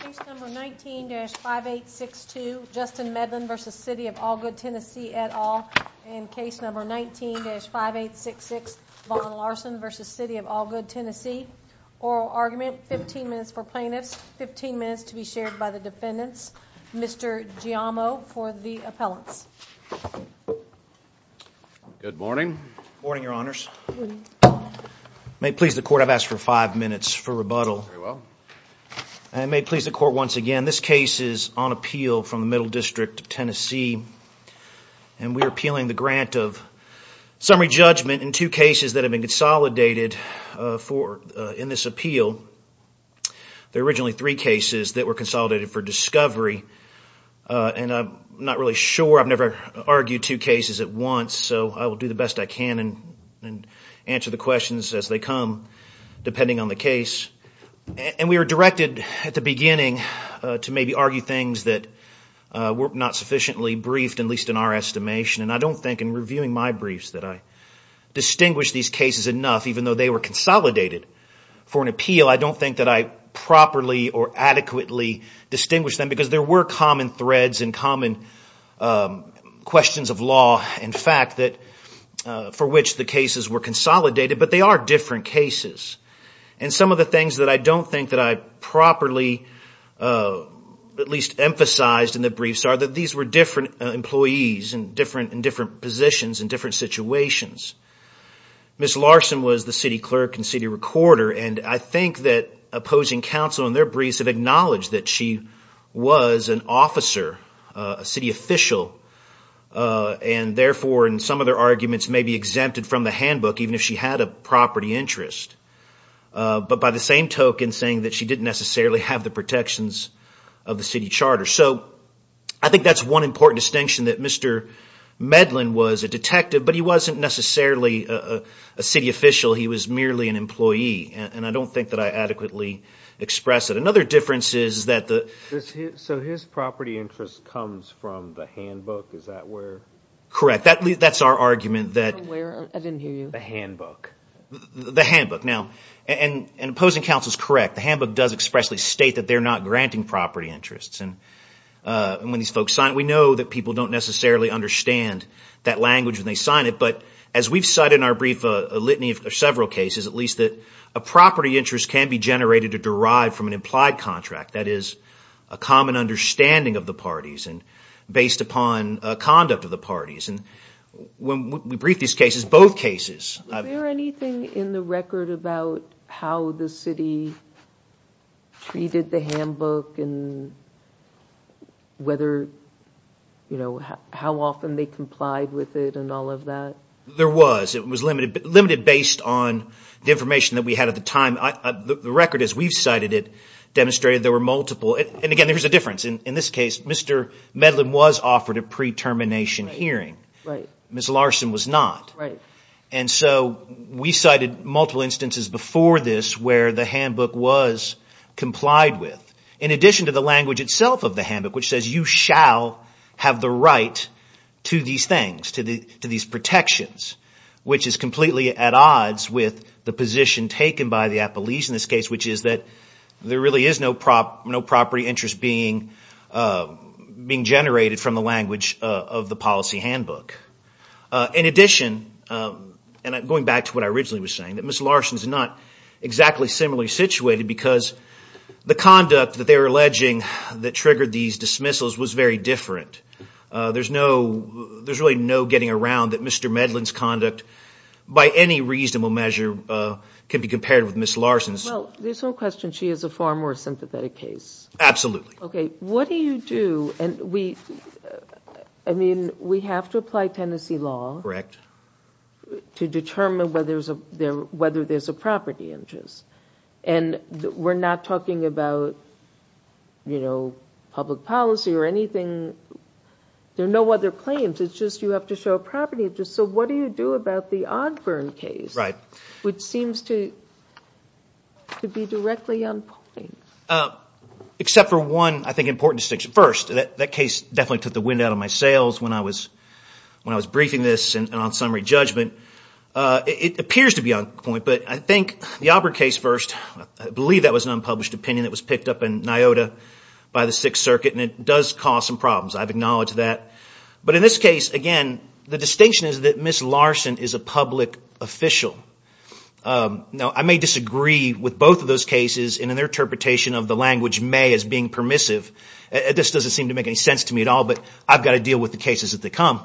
Case number 19-5862, Justin Medlin v. City of Algood, TN, et al. And case number 19-5866, Vaughan Larson v. City of Algood, TN. Oral argument, 15 minutes for plaintiffs, 15 minutes to be shared by the defendants. Mr. Giammo for the appellants. Good morning. Morning, your honors. May it please the court, I've asked for five minutes for rebuttal. Very well. And may it please the court once again, this case is on appeal from the Middle District of Tennessee. And we are appealing the grant of summary judgment in two cases that have been consolidated in this appeal. There were originally three cases that were consolidated for discovery. And I'm not really sure, I've never argued two cases at once. So I will do the best I can and answer the questions as they come depending on the case. And we were directed at the beginning to maybe argue things that were not sufficiently briefed, at least in our estimation. And I don't think in reviewing my briefs that I distinguish these cases enough, even though they were consolidated for an appeal. I don't think that I properly or adequately distinguish them because there were common threads and common questions of law and fact for which the cases were consolidated. But they are different cases. And some of the things that I don't think that I properly at least emphasized in the briefs are that these were different employees in different positions in different situations. Ms. Larson was the city clerk and city recorder, and I think that opposing counsel in their briefs had acknowledged that she was an officer, a city official. And therefore, in some of their arguments, may be exempted from the handbook even if she had a property interest. But by the same token, saying that she didn't necessarily have the protections of the city charter. So I think that's one important distinction that Mr. Medlin was a detective, but he wasn't necessarily a city official. He was merely an employee, and I don't think that I adequately express it. So his property interest comes from the handbook? Is that where – Correct. That's our argument that – Where? I didn't hear you. The handbook. The handbook. Now – and opposing counsel is correct. The handbook does expressly state that they're not granting property interests. And when these folks sign it, we know that people don't necessarily understand that language when they sign it. But as we've cited in our brief, a litany of several cases at least, that a property interest can be generated or derived from an implied contract. That is a common understanding of the parties and based upon conduct of the parties. And when we brief these cases, both cases – How the city treated the handbook and whether – how often they complied with it and all of that? There was. It was limited based on the information that we had at the time. The record as we've cited it demonstrated there were multiple – and again, there's a difference. In this case, Mr. Medlin was offered a pre-termination hearing. Right. Ms. Larson was not. Right. And so we cited multiple instances before this where the handbook was complied with. In addition to the language itself of the handbook, which says you shall have the right to these things, to these protections, which is completely at odds with the position taken by the appellees in this case, which is that there really is no property interest being generated from the language of the policy handbook. In addition, and going back to what I originally was saying, that Ms. Larson is not exactly similarly situated because the conduct that they were alleging that triggered these dismissals was very different. There's no – there's really no getting around that Mr. Medlin's conduct by any reasonable measure can be compared with Ms. Larson's. Well, there's no question she is a far more sympathetic case. Absolutely. Okay. What do you do – and we – I mean, we have to apply Tennessee law. Correct. To determine whether there's a property interest. And we're not talking about, you know, public policy or anything. There are no other claims. It's just you have to show a property interest. So what do you do about the Ogburn case? Right. Which seems to be directly on point. Except for one, I think, important distinction. First, that case definitely took the wind out of my sails when I was briefing this and on summary judgment. It appears to be on point, but I think the Ogburn case first, I believe that was an unpublished opinion that was picked up in NYOTA by the Sixth Circuit, and it does cause some problems. I've acknowledged that. But in this case, again, the distinction is that Ms. Larson is a public official. Now, I may disagree with both of those cases in their interpretation of the language may as being permissive. This doesn't seem to make any sense to me at all, but I've got to deal with the cases as they come.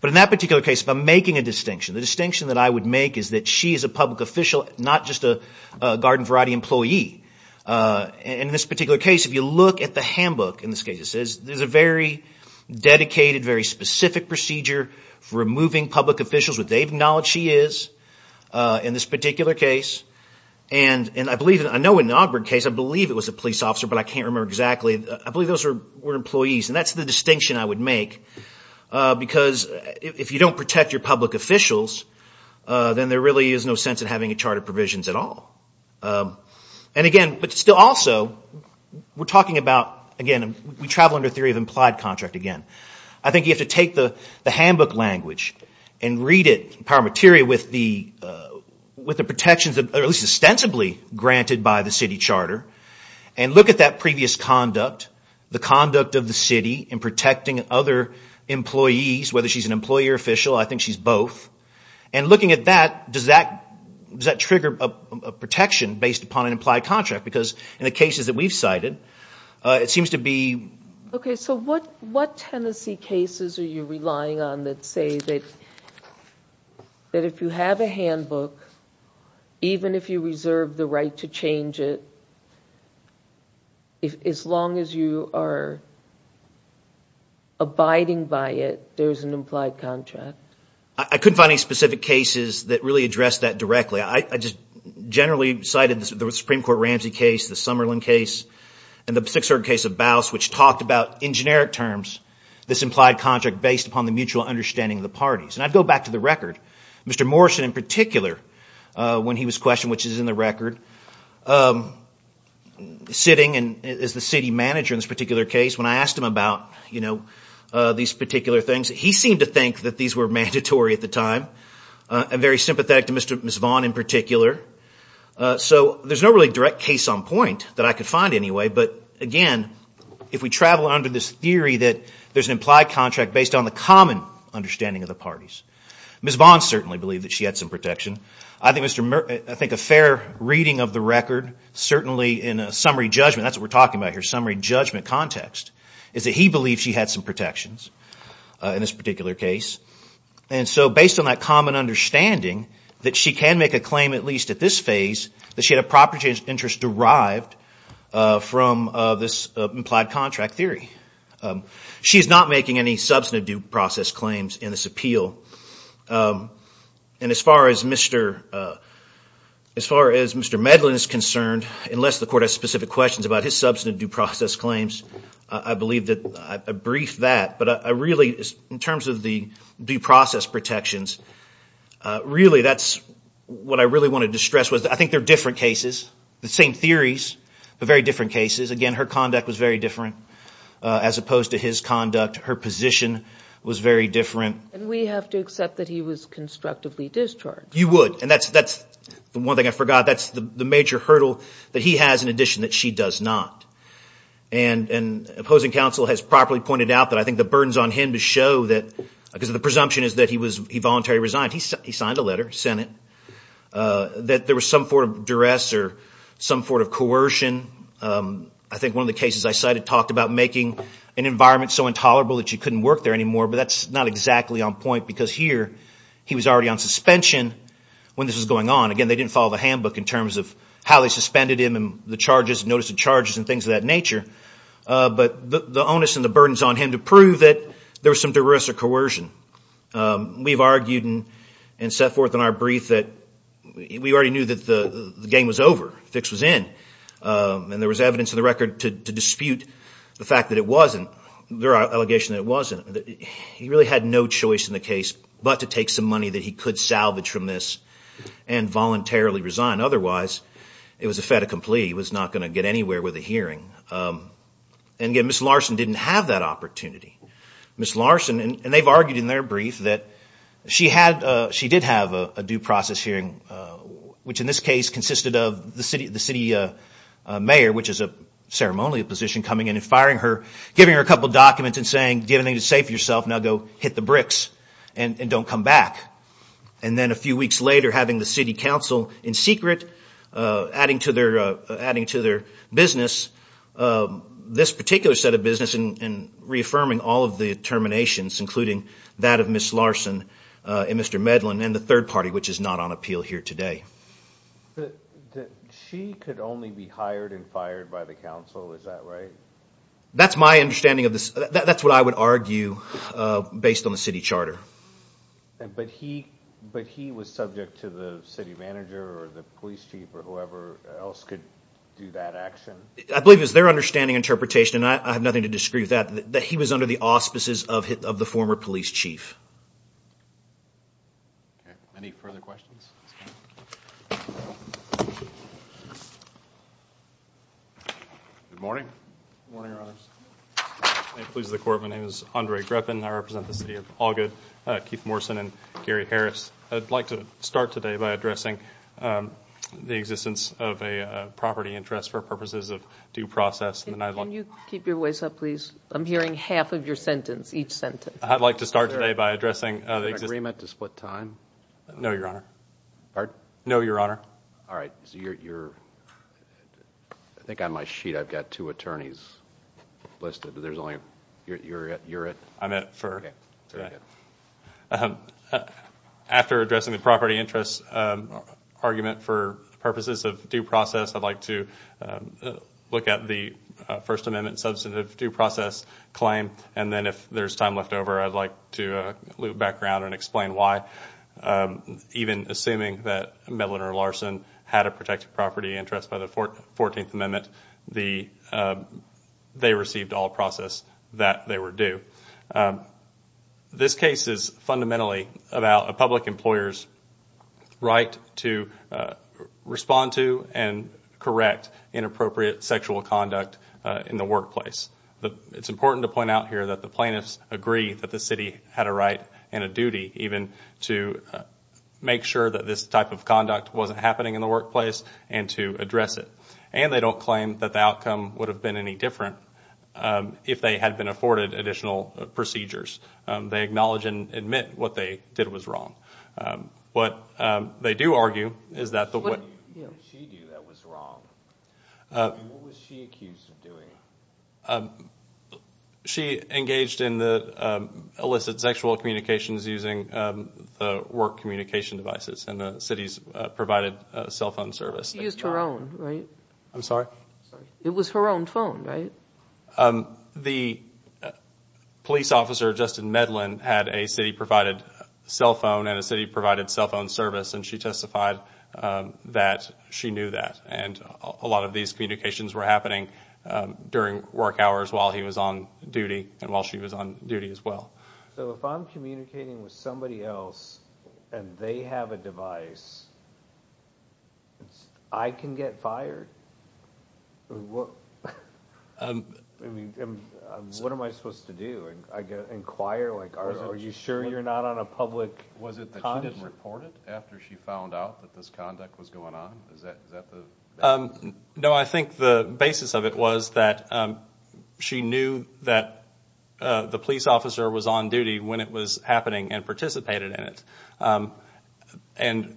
But in that particular case, if I'm making a distinction, the distinction that I would make is that she is a public official, not just a garden variety employee. In this particular case, if you look at the handbook in this case, it says there's a very dedicated, very specific procedure for removing public officials. They've acknowledged she is in this particular case. And I believe – I know in the Ogburn case, I believe it was a police officer, but I can't remember exactly. I believe those were employees, and that's the distinction I would make because if you don't protect your public officials, then there really is no sense in having a chart of provisions at all. And again, but still also, we're talking about, again, we travel under the theory of implied contract again. I think you have to take the handbook language and read it in Power Materia with the protections, at least ostensibly, granted by the city charter. And look at that previous conduct, the conduct of the city in protecting other employees, whether she's an employee or official. I think she's both. And looking at that, does that trigger a protection based upon an implied contract? Because in the cases that we've cited, it seems to be – Okay, so what tenancy cases are you relying on that say that if you have a handbook, even if you reserve the right to change it, as long as you are abiding by it, there's an implied contract? I couldn't find any specific cases that really address that directly. I just generally cited the Supreme Court Ramsey case, the Summerlin case, and the Sixth Circuit case of Baus, which talked about, in generic terms, this implied contract based upon the mutual understanding of the parties. And I'd go back to the record. Mr. Morrison in particular, when he was questioned, which is in the record, sitting as the city manager in this particular case, when I asked him about these particular things, he seemed to think that these were mandatory at the time. I'm very sympathetic to Ms. Vaughn in particular. So there's no really direct case on point that I could find anyway. But again, if we travel under this theory that there's an implied contract based on the common understanding of the parties, Ms. Vaughn certainly believed that she had some protection. I think a fair reading of the record, certainly in a summary judgment – that's what we're talking about here, summary judgment context – is that he believed she had some protections in this particular case. And so based on that common understanding, that she can make a claim at least at this phase that she had a property interest derived from this implied contract theory. She's not making any substantive due process claims in this appeal. And as far as Mr. Medlin is concerned, unless the court has specific questions about his substantive due process claims, I believe that I briefed that. But I really – in terms of the due process protections, really that's – what I really wanted to stress was I think they're different cases. The same theories, but very different cases. Again, her conduct was very different as opposed to his conduct. Her position was very different. And we have to accept that he was constructively discharged. You would. And that's the one thing I forgot. That's the major hurdle that he has in addition that she does not. And opposing counsel has properly pointed out that I think the burden is on him to show that – because the presumption is that he voluntarily resigned. He signed a letter, sent it, that there was some sort of duress or some sort of coercion. I think one of the cases I cited talked about making an environment so intolerable that you couldn't work there anymore. But that's not exactly on point because here he was already on suspension when this was going on. Again, they didn't follow the handbook in terms of how they suspended him and the charges, notice of charges and things of that nature. But the onus and the burden is on him to prove that there was some duress or coercion. We've argued and set forth in our brief that we already knew that the game was over. Fix was in. And there was evidence in the record to dispute the fact that it wasn't – their allegation that it wasn't. He really had no choice in the case but to take some money that he could salvage from this and voluntarily resign. Otherwise, it was a fait accompli. He was not going to get anywhere with a hearing. And again, Ms. Larson didn't have that opportunity. Ms. Larson – and they've argued in their brief that she had – she did have a due process hearing, which in this case consisted of the city mayor, which is a ceremonial position, coming in and firing her, giving her a couple of documents and saying, do you have anything to say for yourself? Now go hit the bricks and don't come back. And then a few weeks later, having the city council in secret adding to their business this particular set of business and reaffirming all of the terminations, including that of Ms. Larson and Mr. Medlin and the third party, which is not on appeal here today. She could only be hired and fired by the council. Is that right? That's my understanding of this. That's what I would argue based on the city charter. But he was subject to the city manager or the police chief or whoever else could do that action? I believe it's their understanding and interpretation, and I have nothing to disagree with that, that he was under the auspices of the former police chief. Any further questions? Good morning. Good morning, Your Honors. May it please the Court, my name is Andre Greppin. I represent the city of Allgood, Keith Morrison, and Gary Harris. I'd like to start today by addressing the existence of a property interest for purposes of due process. Can you keep your voice up, please? I'm hearing half of your sentence, each sentence. I'd like to start today by addressing the existence of a property interest for purposes of due process. An agreement to split time? No, Your Honor. Pardon? No, Your Honor. All right. I think on my sheet I've got two attorneys listed, but there's only one. You're it? I'm it for today. Okay. After addressing the property interest argument for purposes of due process, I'd like to look at the First Amendment substantive due process claim, and then if there's time left over I'd like to loop back around and explain why, even assuming that Midland or Larson had a protected property interest by the 14th Amendment, they received all process that they were due. This case is fundamentally about a public employer's right to respond to and correct inappropriate sexual conduct in the workplace. It's important to point out here that the plaintiffs agree that the city had a right and a duty even to make sure that this type of conduct wasn't happening in the workplace and to address it. And they don't claim that the outcome would have been any different if they had been afforded additional procedures. They acknowledge and admit what they did was wrong. What they do argue is that what she did was wrong. What was she accused of doing? She engaged in the illicit sexual communications using the work communication devices, and the city's provided cell phone service. She used her own, right? I'm sorry? It was her own phone, right? The police officer, Justin Midland, had a city-provided cell phone and a city-provided cell phone service, and she testified that she knew that. And a lot of these communications were happening during work hours while he was on duty and while she was on duty as well. So if I'm communicating with somebody else and they have a device, I can get fired? What am I supposed to do? Inquire? Are you sure you're not on a public contact? Was it that she didn't report it after she found out that this conduct was going on? Is that the basis? No, I think the basis of it was that she knew that the police officer was on duty when it was happening and participated in it. And,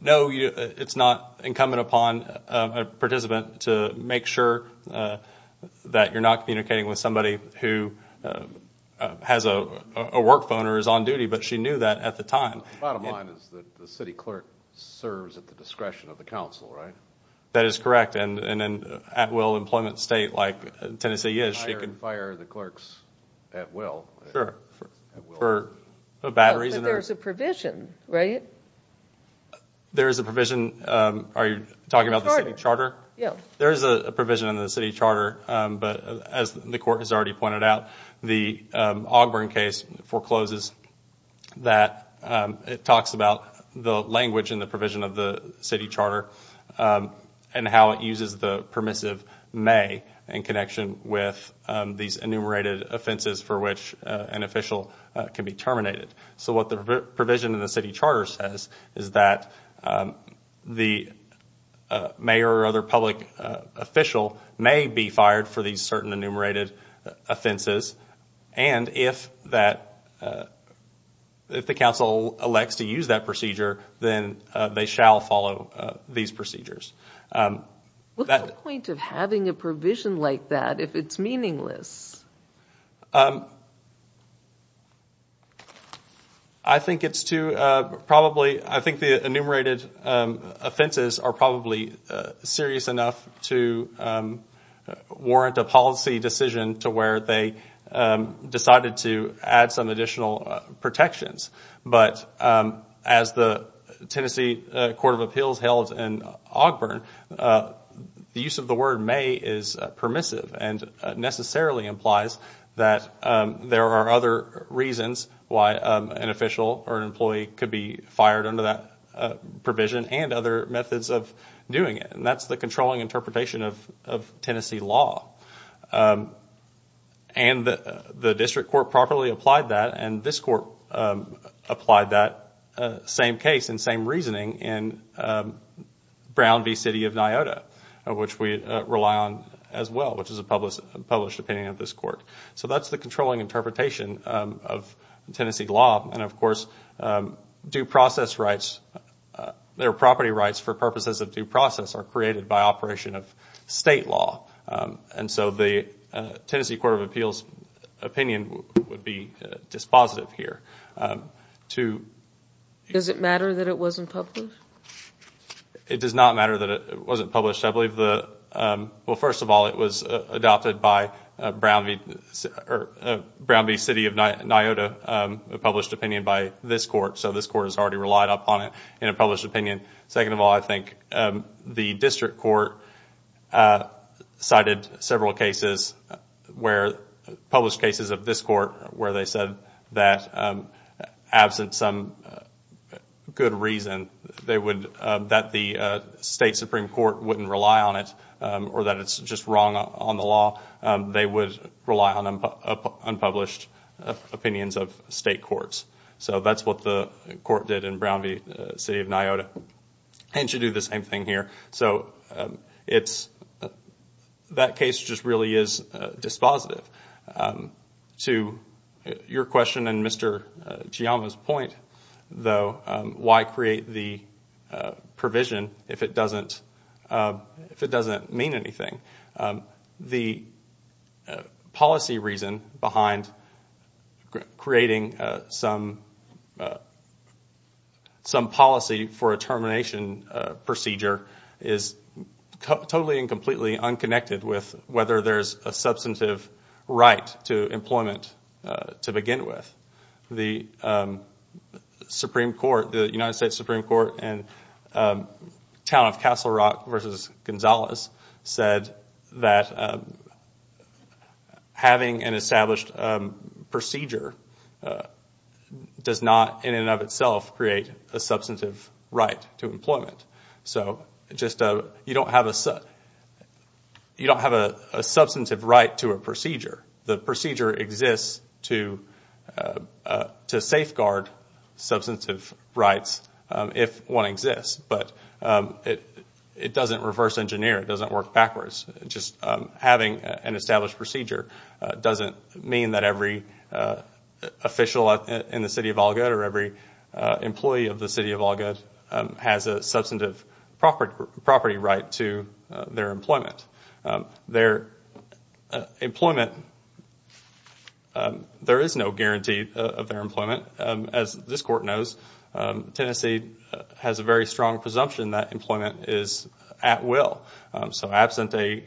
no, it's not incumbent upon a participant to make sure that you're not communicating with somebody who has a work phone or is on duty, but she knew that at the time. The bottom line is that the city clerk serves at the discretion of the council, right? That is correct, and an at-will employment state like Tennessee is. She can fire the clerks at will. Sure, for a bad reason. But there's a provision, right? There is a provision. Are you talking about the city charter? There is a provision in the city charter, but as the Court has already pointed out, the Ogburn case forecloses that it talks about the language in the provision of the city charter and how it uses the permissive may in connection with these enumerated offenses for which an official can be terminated. So what the provision in the city charter says is that the mayor or other public official may be fired for these certain enumerated offenses, and if the council elects to use that procedure, then they shall follow these procedures. What's the point of having a provision like that if it's meaningless? I think the enumerated offenses are probably serious enough to warrant a policy decision to where they decided to add some additional protections. But as the Tennessee Court of Appeals held in Ogburn, the use of the word may is permissive and necessarily implies that there are other reasons why an official or an employee could be fired under that provision and other methods of doing it, and that's the controlling interpretation of Tennessee law. And the district court properly applied that, and this court applied that same case and same reasoning in Brown v. City of Nyota, which we rely on as well, which is a published opinion of this court. So that's the controlling interpretation of Tennessee law. And, of course, due process rights, their property rights for purposes of due process, are created by operation of state law. And so the Tennessee Court of Appeals' opinion would be dispositive here. Does it matter that it wasn't published? It does not matter that it wasn't published. First of all, it was adopted by Brown v. City of Nyota, a published opinion by this court, so this court has already relied upon it in a published opinion. Second of all, I think the district court cited several cases, published cases of this court, where they said that absent some good reason that the state supreme court wouldn't rely on it or that it's just wrong on the law, they would rely on unpublished opinions of state courts. So that's what the court did in Brown v. City of Nyota and should do the same thing here. So that case just really is dispositive. To your question and Mr. Chiama's point, though, why create the provision if it doesn't mean anything? The policy reason behind creating some policy for a termination procedure is totally and completely unconnected with whether there's a substantive right to employment to begin with. The United States Supreme Court in Town of Castle Rock v. Gonzalez said that having an established procedure does not in and of itself create a substantive right to employment. You don't have a substantive right to a procedure. The procedure exists to safeguard substantive rights if one exists, but it doesn't reverse engineer, it doesn't work backwards. Just having an established procedure doesn't mean that every official in the city of Allgood or every employee of the city of Allgood has a substantive property right to their employment. Their employment, there is no guarantee of their employment. As this court knows, Tennessee has a very strong presumption that employment is at will. So absent a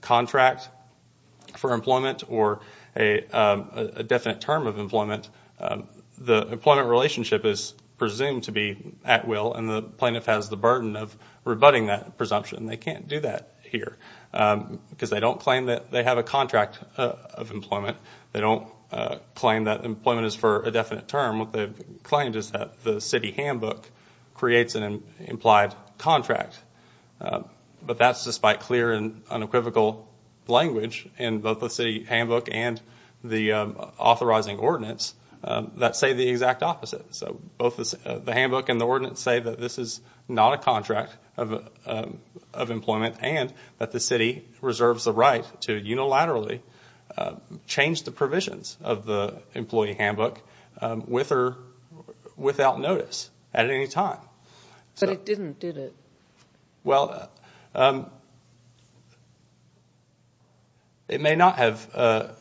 contract for employment or a definite term of employment, the employment relationship is presumed to be at will and the plaintiff has the burden of rebutting that presumption. They can't do that here because they don't claim that they have a contract of employment. They don't claim that employment is for a definite term. What they've claimed is that the city handbook creates an implied contract. But that's despite clear and unequivocal language in both the city handbook and the authorizing ordinance that say the exact opposite. So both the handbook and the ordinance say that this is not a contract of employment and that the city reserves the right to unilaterally change the provisions of the employee handbook with or without notice at any time. But it didn't, did it? Well, it may not have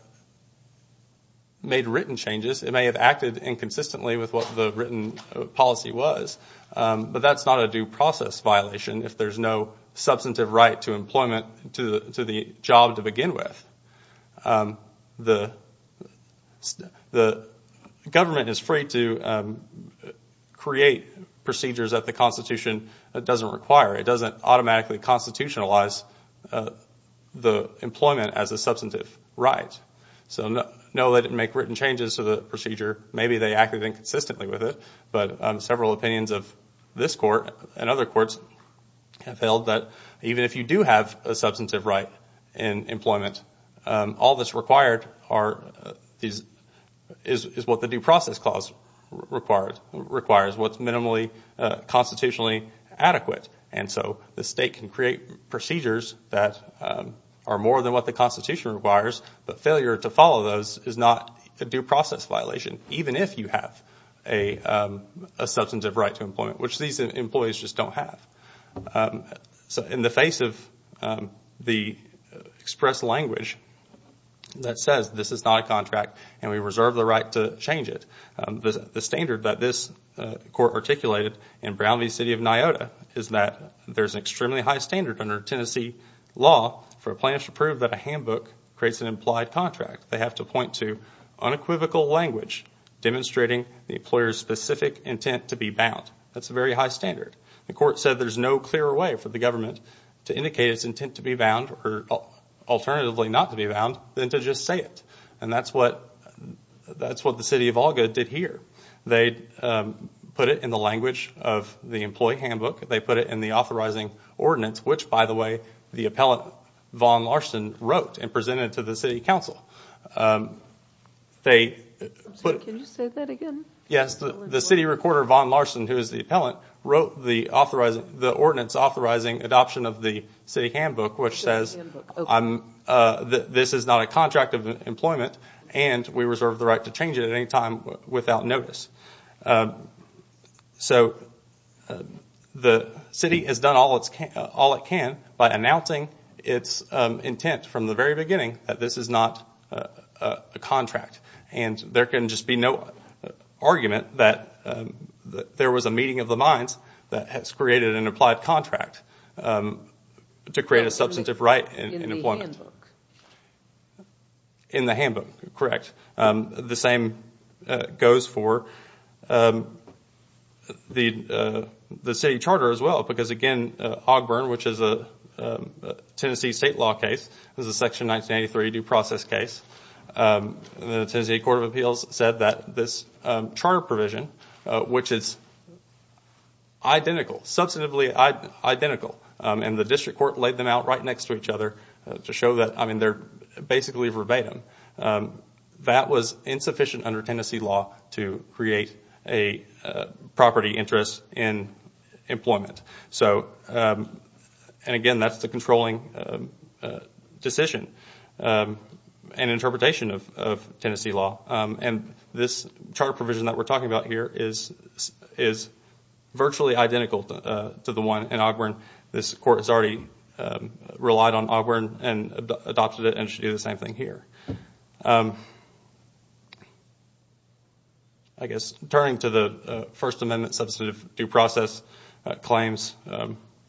made written changes. It may have acted inconsistently with what the written policy was. But that's not a due process violation if there's no substantive right to employment to the job to begin with. The government is free to create procedures that the Constitution doesn't require. It doesn't automatically constitutionalize the employment as a substantive right. So no, they didn't make written changes to the procedure. Maybe they acted inconsistently with it. But several opinions of this court and other courts have held that even if you do have a substantive right in employment, all that's required is what the due process clause requires, what's minimally constitutionally adequate. And so the state can create procedures that are more than what the Constitution requires, but failure to follow those is not a due process violation even if you have a substantive right to employment, which these employees just don't have. So in the face of the express language that says this is not a contract and we reserve the right to change it, the standard that this court articulated in Brown v. City of Nyota is that there's an extremely high standard under Tennessee law for a plaintiff to prove that a handbook creates an implied contract. They have to point to unequivocal language demonstrating the employer's specific intent to be bound. That's a very high standard. The court said there's no clearer way for the government to indicate its intent to be bound or alternatively not to be bound than to just say it. And that's what the City of Alga did here. They put it in the language of the employee handbook. They put it in the authorizing ordinance, which, by the way, the appellant, Vaughn Larson, wrote and presented to the city council. Can you say that again? Yes. The city recorder, Vaughn Larson, who is the appellant, wrote the ordinance authorizing adoption of the city handbook, which says this is not a contract of employment and we reserve the right to change it at any time without notice. So the city has done all it can by announcing its intent from the very beginning that this is not a contract. And there can just be no argument that there was a meeting of the minds that has created an implied contract to create a substantive right in employment. In the handbook. In the handbook, correct. The same goes for the city charter as well because, again, Ogburn, which is a Tennessee state law case, this is a Section 1983 due process case, the Tennessee Court of Appeals said that this charter provision, which is identical, substantively identical, and the district court laid them out right next to each other to show that they're basically verbatim, that was insufficient under Tennessee law to create a property interest in employment. So, and again, that's the controlling decision and interpretation of Tennessee law. And this charter provision that we're talking about here is virtually identical to the one in Ogburn. This court has already relied on Ogburn and adopted it and should do the same thing here. I guess turning to the First Amendment substantive due process claims,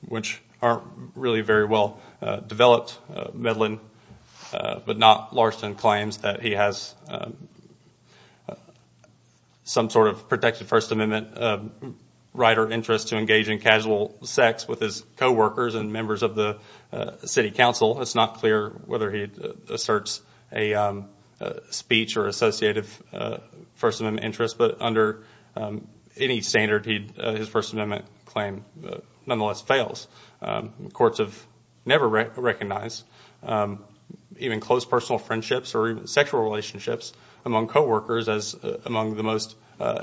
which aren't really very well developed, Medlin, but not Larson, claims that he has some sort of protected First Amendment right or interest to engage in casual sex with his coworkers and members of the city council. It's not clear whether he asserts a speech or associative First Amendment interest, but under any standard his First Amendment claim nonetheless fails. Courts have never recognized even close personal friendships or even sexual relationships among coworkers as among the most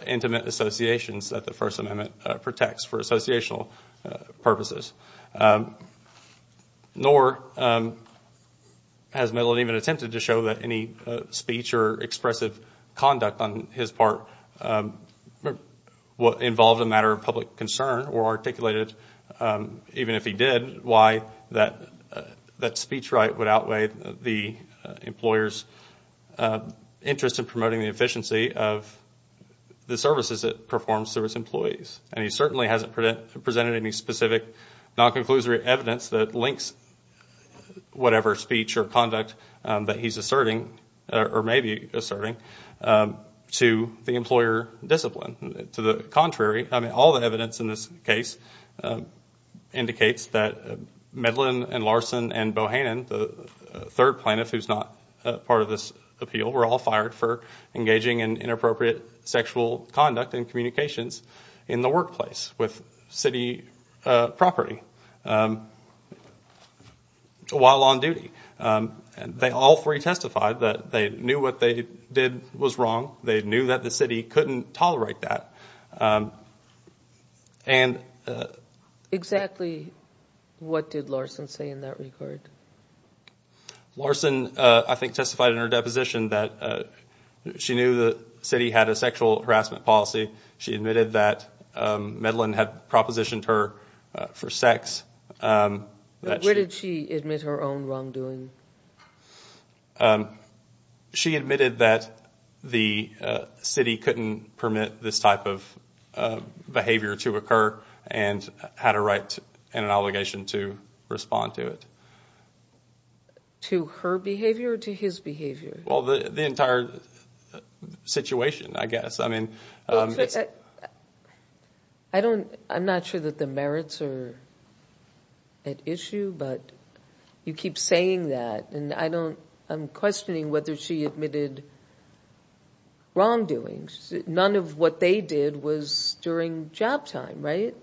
intimate associations that the First Amendment protects for associational purposes. Nor has Medlin even attempted to show that any speech or expressive conduct on his part involved a matter of public concern or articulated, even if he did, why that speech right would outweigh the employer's interest in promoting the efficiency of the services it performs to its employees. And he certainly hasn't presented any specific non-conclusory evidence that links whatever speech or conduct that he's asserting or may be asserting to the employer discipline. To the contrary, all the evidence in this case indicates that Medlin and Larson and Bohannon, the third plaintiff who's not part of this appeal, were all fired for engaging in inappropriate sexual conduct and communications in the workplace with city property while on duty. And they all three testified that they knew what they did was wrong. They knew that the city couldn't tolerate that. And exactly what did Larson say in that regard? Larson, I think, testified in her deposition that she knew the city had a sexual harassment policy. She admitted that Medlin had propositioned her for sex. Where did she admit her own wrongdoing? She admitted that the city couldn't permit this type of behavior to occur and had a right and an obligation to respond to it. To her behavior or to his behavior? Well, the entire situation, I guess. I'm not sure that the merits are at issue, but you keep saying that. And I'm questioning whether she admitted wrongdoing. None of what they did was during job time, right?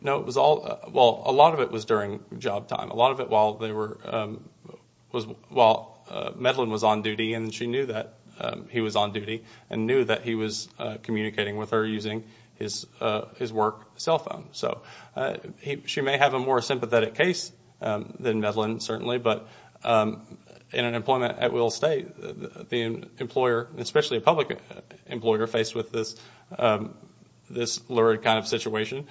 No, it was all – well, a lot of it was during job time. A lot of it while Medlin was on duty and she knew that he was on duty and knew that he was communicating with her using his work cell phone. So she may have a more sympathetic case than Medlin, certainly. But in an employment at will state, the employer, especially a public employer, faced with this lurid kind of situation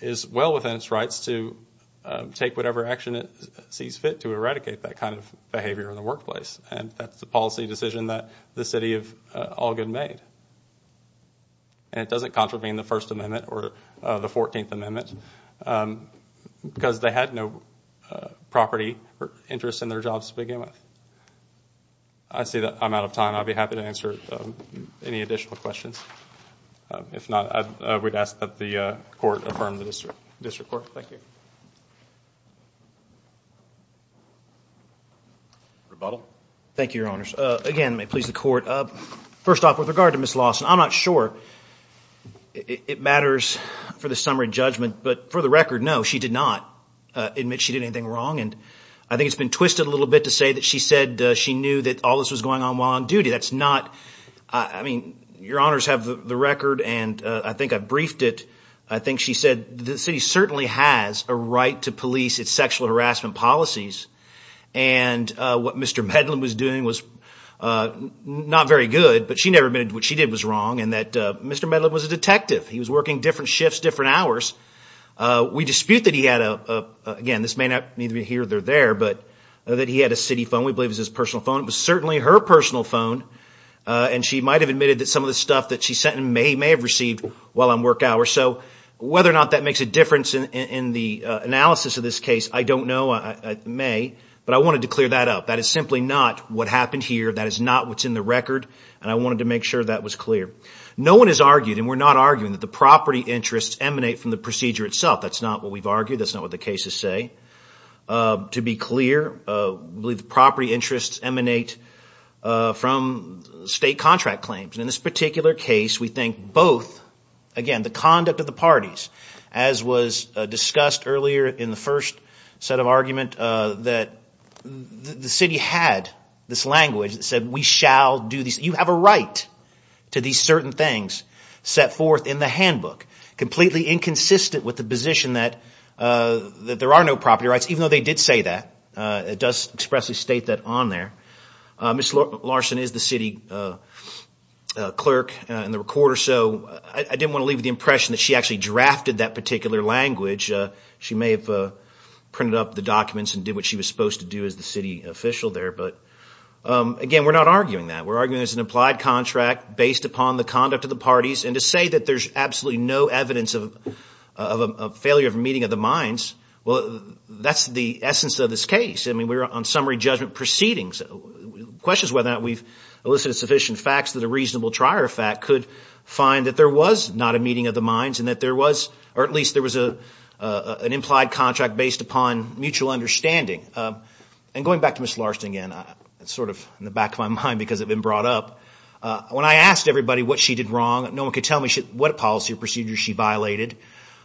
is well within its rights to take whatever action it sees fit to eradicate that kind of behavior in the workplace. And that's the policy decision that the city of Allgood made. And it doesn't contravene the First Amendment or the Fourteenth Amendment because they had no property interests in their jobs to begin with. I see that I'm out of time. I'd be happy to answer any additional questions. If not, I would ask that the court affirm the district court. Thank you. Rebuttal. Thank you, Your Honors. Again, it may please the court. First off, with regard to Ms. Lawson, I'm not sure it matters for the summary judgment. But for the record, no, she did not admit she did anything wrong. And I think it's been twisted a little bit to say that she said she knew that all this was going on while on duty. That's not – I mean, Your Honors have the record and I think I briefed it. I think she said the city certainly has a right to police its sexual harassment policies. And what Mr. Medlin was doing was not very good, but she never admitted what she did was wrong and that Mr. Medlin was a detective. He was working different shifts, different hours. We dispute that he had a – again, this may not be here or there, but that he had a city phone. We believe it was his personal phone. It was certainly her personal phone. And she might have admitted that some of the stuff that she said may have received while on work hours. So whether or not that makes a difference in the analysis of this case, I don't know. It may, but I wanted to clear that up. That is simply not what happened here. That is not what's in the record, and I wanted to make sure that was clear. No one has argued, and we're not arguing, that the property interests emanate from the procedure itself. That's not what we've argued. That's not what the cases say. To be clear, we believe the property interests emanate from state contract claims. In this particular case, we think both, again, the conduct of the parties, as was discussed earlier in the first set of argument, that the city had this language that said we shall do these – you have a right to these certain things set forth in the handbook. Completely inconsistent with the position that there are no property rights, even though they did say that. It does expressly state that on there. Ms. Larson is the city clerk and the recorder, so I didn't want to leave the impression that she actually drafted that particular language. She may have printed up the documents and did what she was supposed to do as the city official there. But, again, we're not arguing that. We're arguing it's an implied contract based upon the conduct of the parties, and to say that there's absolutely no evidence of a failure of meeting of the minds, well, that's the essence of this case. I mean we're on summary judgment proceedings. The question is whether or not we've elicited sufficient facts that a reasonable trier fact could find that there was not a meeting of the minds and that there was – or at least there was an implied contract based upon mutual understanding. And going back to Ms. Larson again, it's sort of in the back of my mind because it had been brought up. When I asked everybody what she did wrong, no one could tell me what policy or procedure she violated.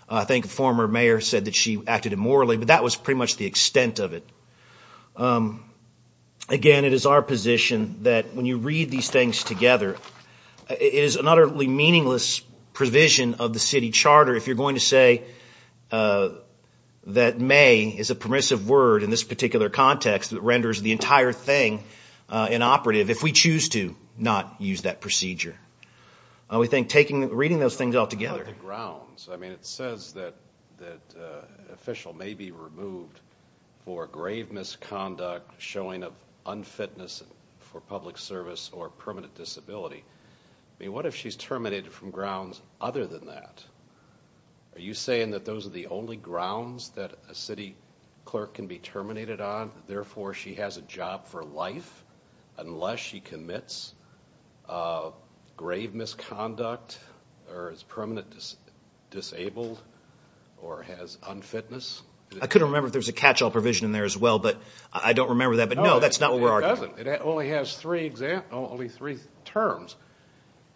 I think a former mayor said that she acted immorally, but that was pretty much the extent of it. Again, it is our position that when you read these things together, it is an utterly meaningless provision of the city charter if you're going to say that may is a permissive word in this particular context that renders the entire thing inoperative if we choose to not use that procedure. We think reading those things all together… showing of unfitness for public service or permanent disability. I mean what if she's terminated from grounds other than that? Are you saying that those are the only grounds that a city clerk can be terminated on, therefore she has a job for life unless she commits grave misconduct or is permanently disabled or has unfitness? I couldn't remember if there's a catch-all provision in there as well, but I don't remember that, but no, that's not what we're arguing. It doesn't. It only has three terms.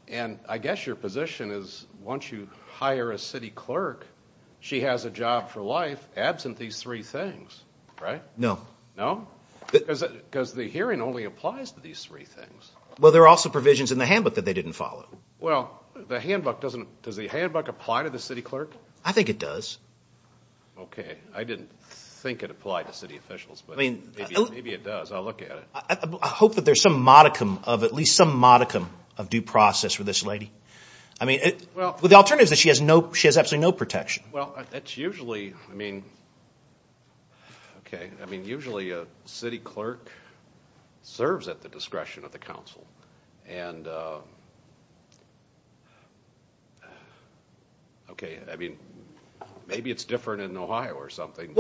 And I guess your position is once you hire a city clerk, she has a job for life absent these three things, right? No. No? Because the hearing only applies to these three things. Well, there are also provisions in the handbook that they didn't follow. Well, the handbook doesn't – does the handbook apply to the city clerk? I think it does. Okay. I didn't think it applied to city officials, but maybe it does. I'll look at it. I hope that there's some modicum of at least some modicum of due process for this lady. I mean, the alternative is that she has absolutely no protection. Well, that's usually – I mean, okay, I mean, usually a city clerk serves at the discretion of the council. And, okay, I mean, maybe it's different in Ohio or something.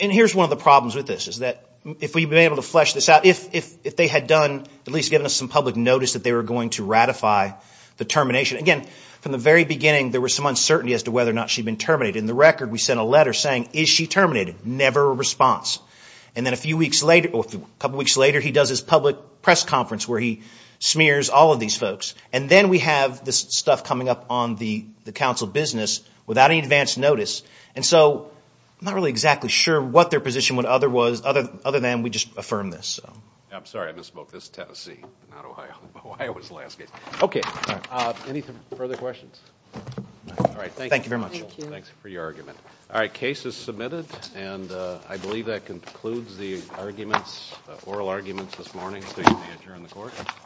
And here's one of the problems with this is that if we've been able to flesh this out, if they had done – at least given us some public notice that they were going to ratify the termination. Again, from the very beginning, there was some uncertainty as to whether or not she'd been terminated. In the record, we sent a letter saying, is she terminated? Never a response. And then a few weeks later – a couple weeks later, he does his public press conference where he smears all of these folks. And then we have this stuff coming up on the council business without any advance notice. And so I'm not really exactly sure what their position was other than we just affirmed this. I'm sorry. I misspoke. This is Tennessee, not Ohio. Okay, any further questions? All right, thank you. Thank you very much. Thanks for your argument. All right, case is submitted. And I believe that concludes the arguments, oral arguments this morning. So you may adjourn the court.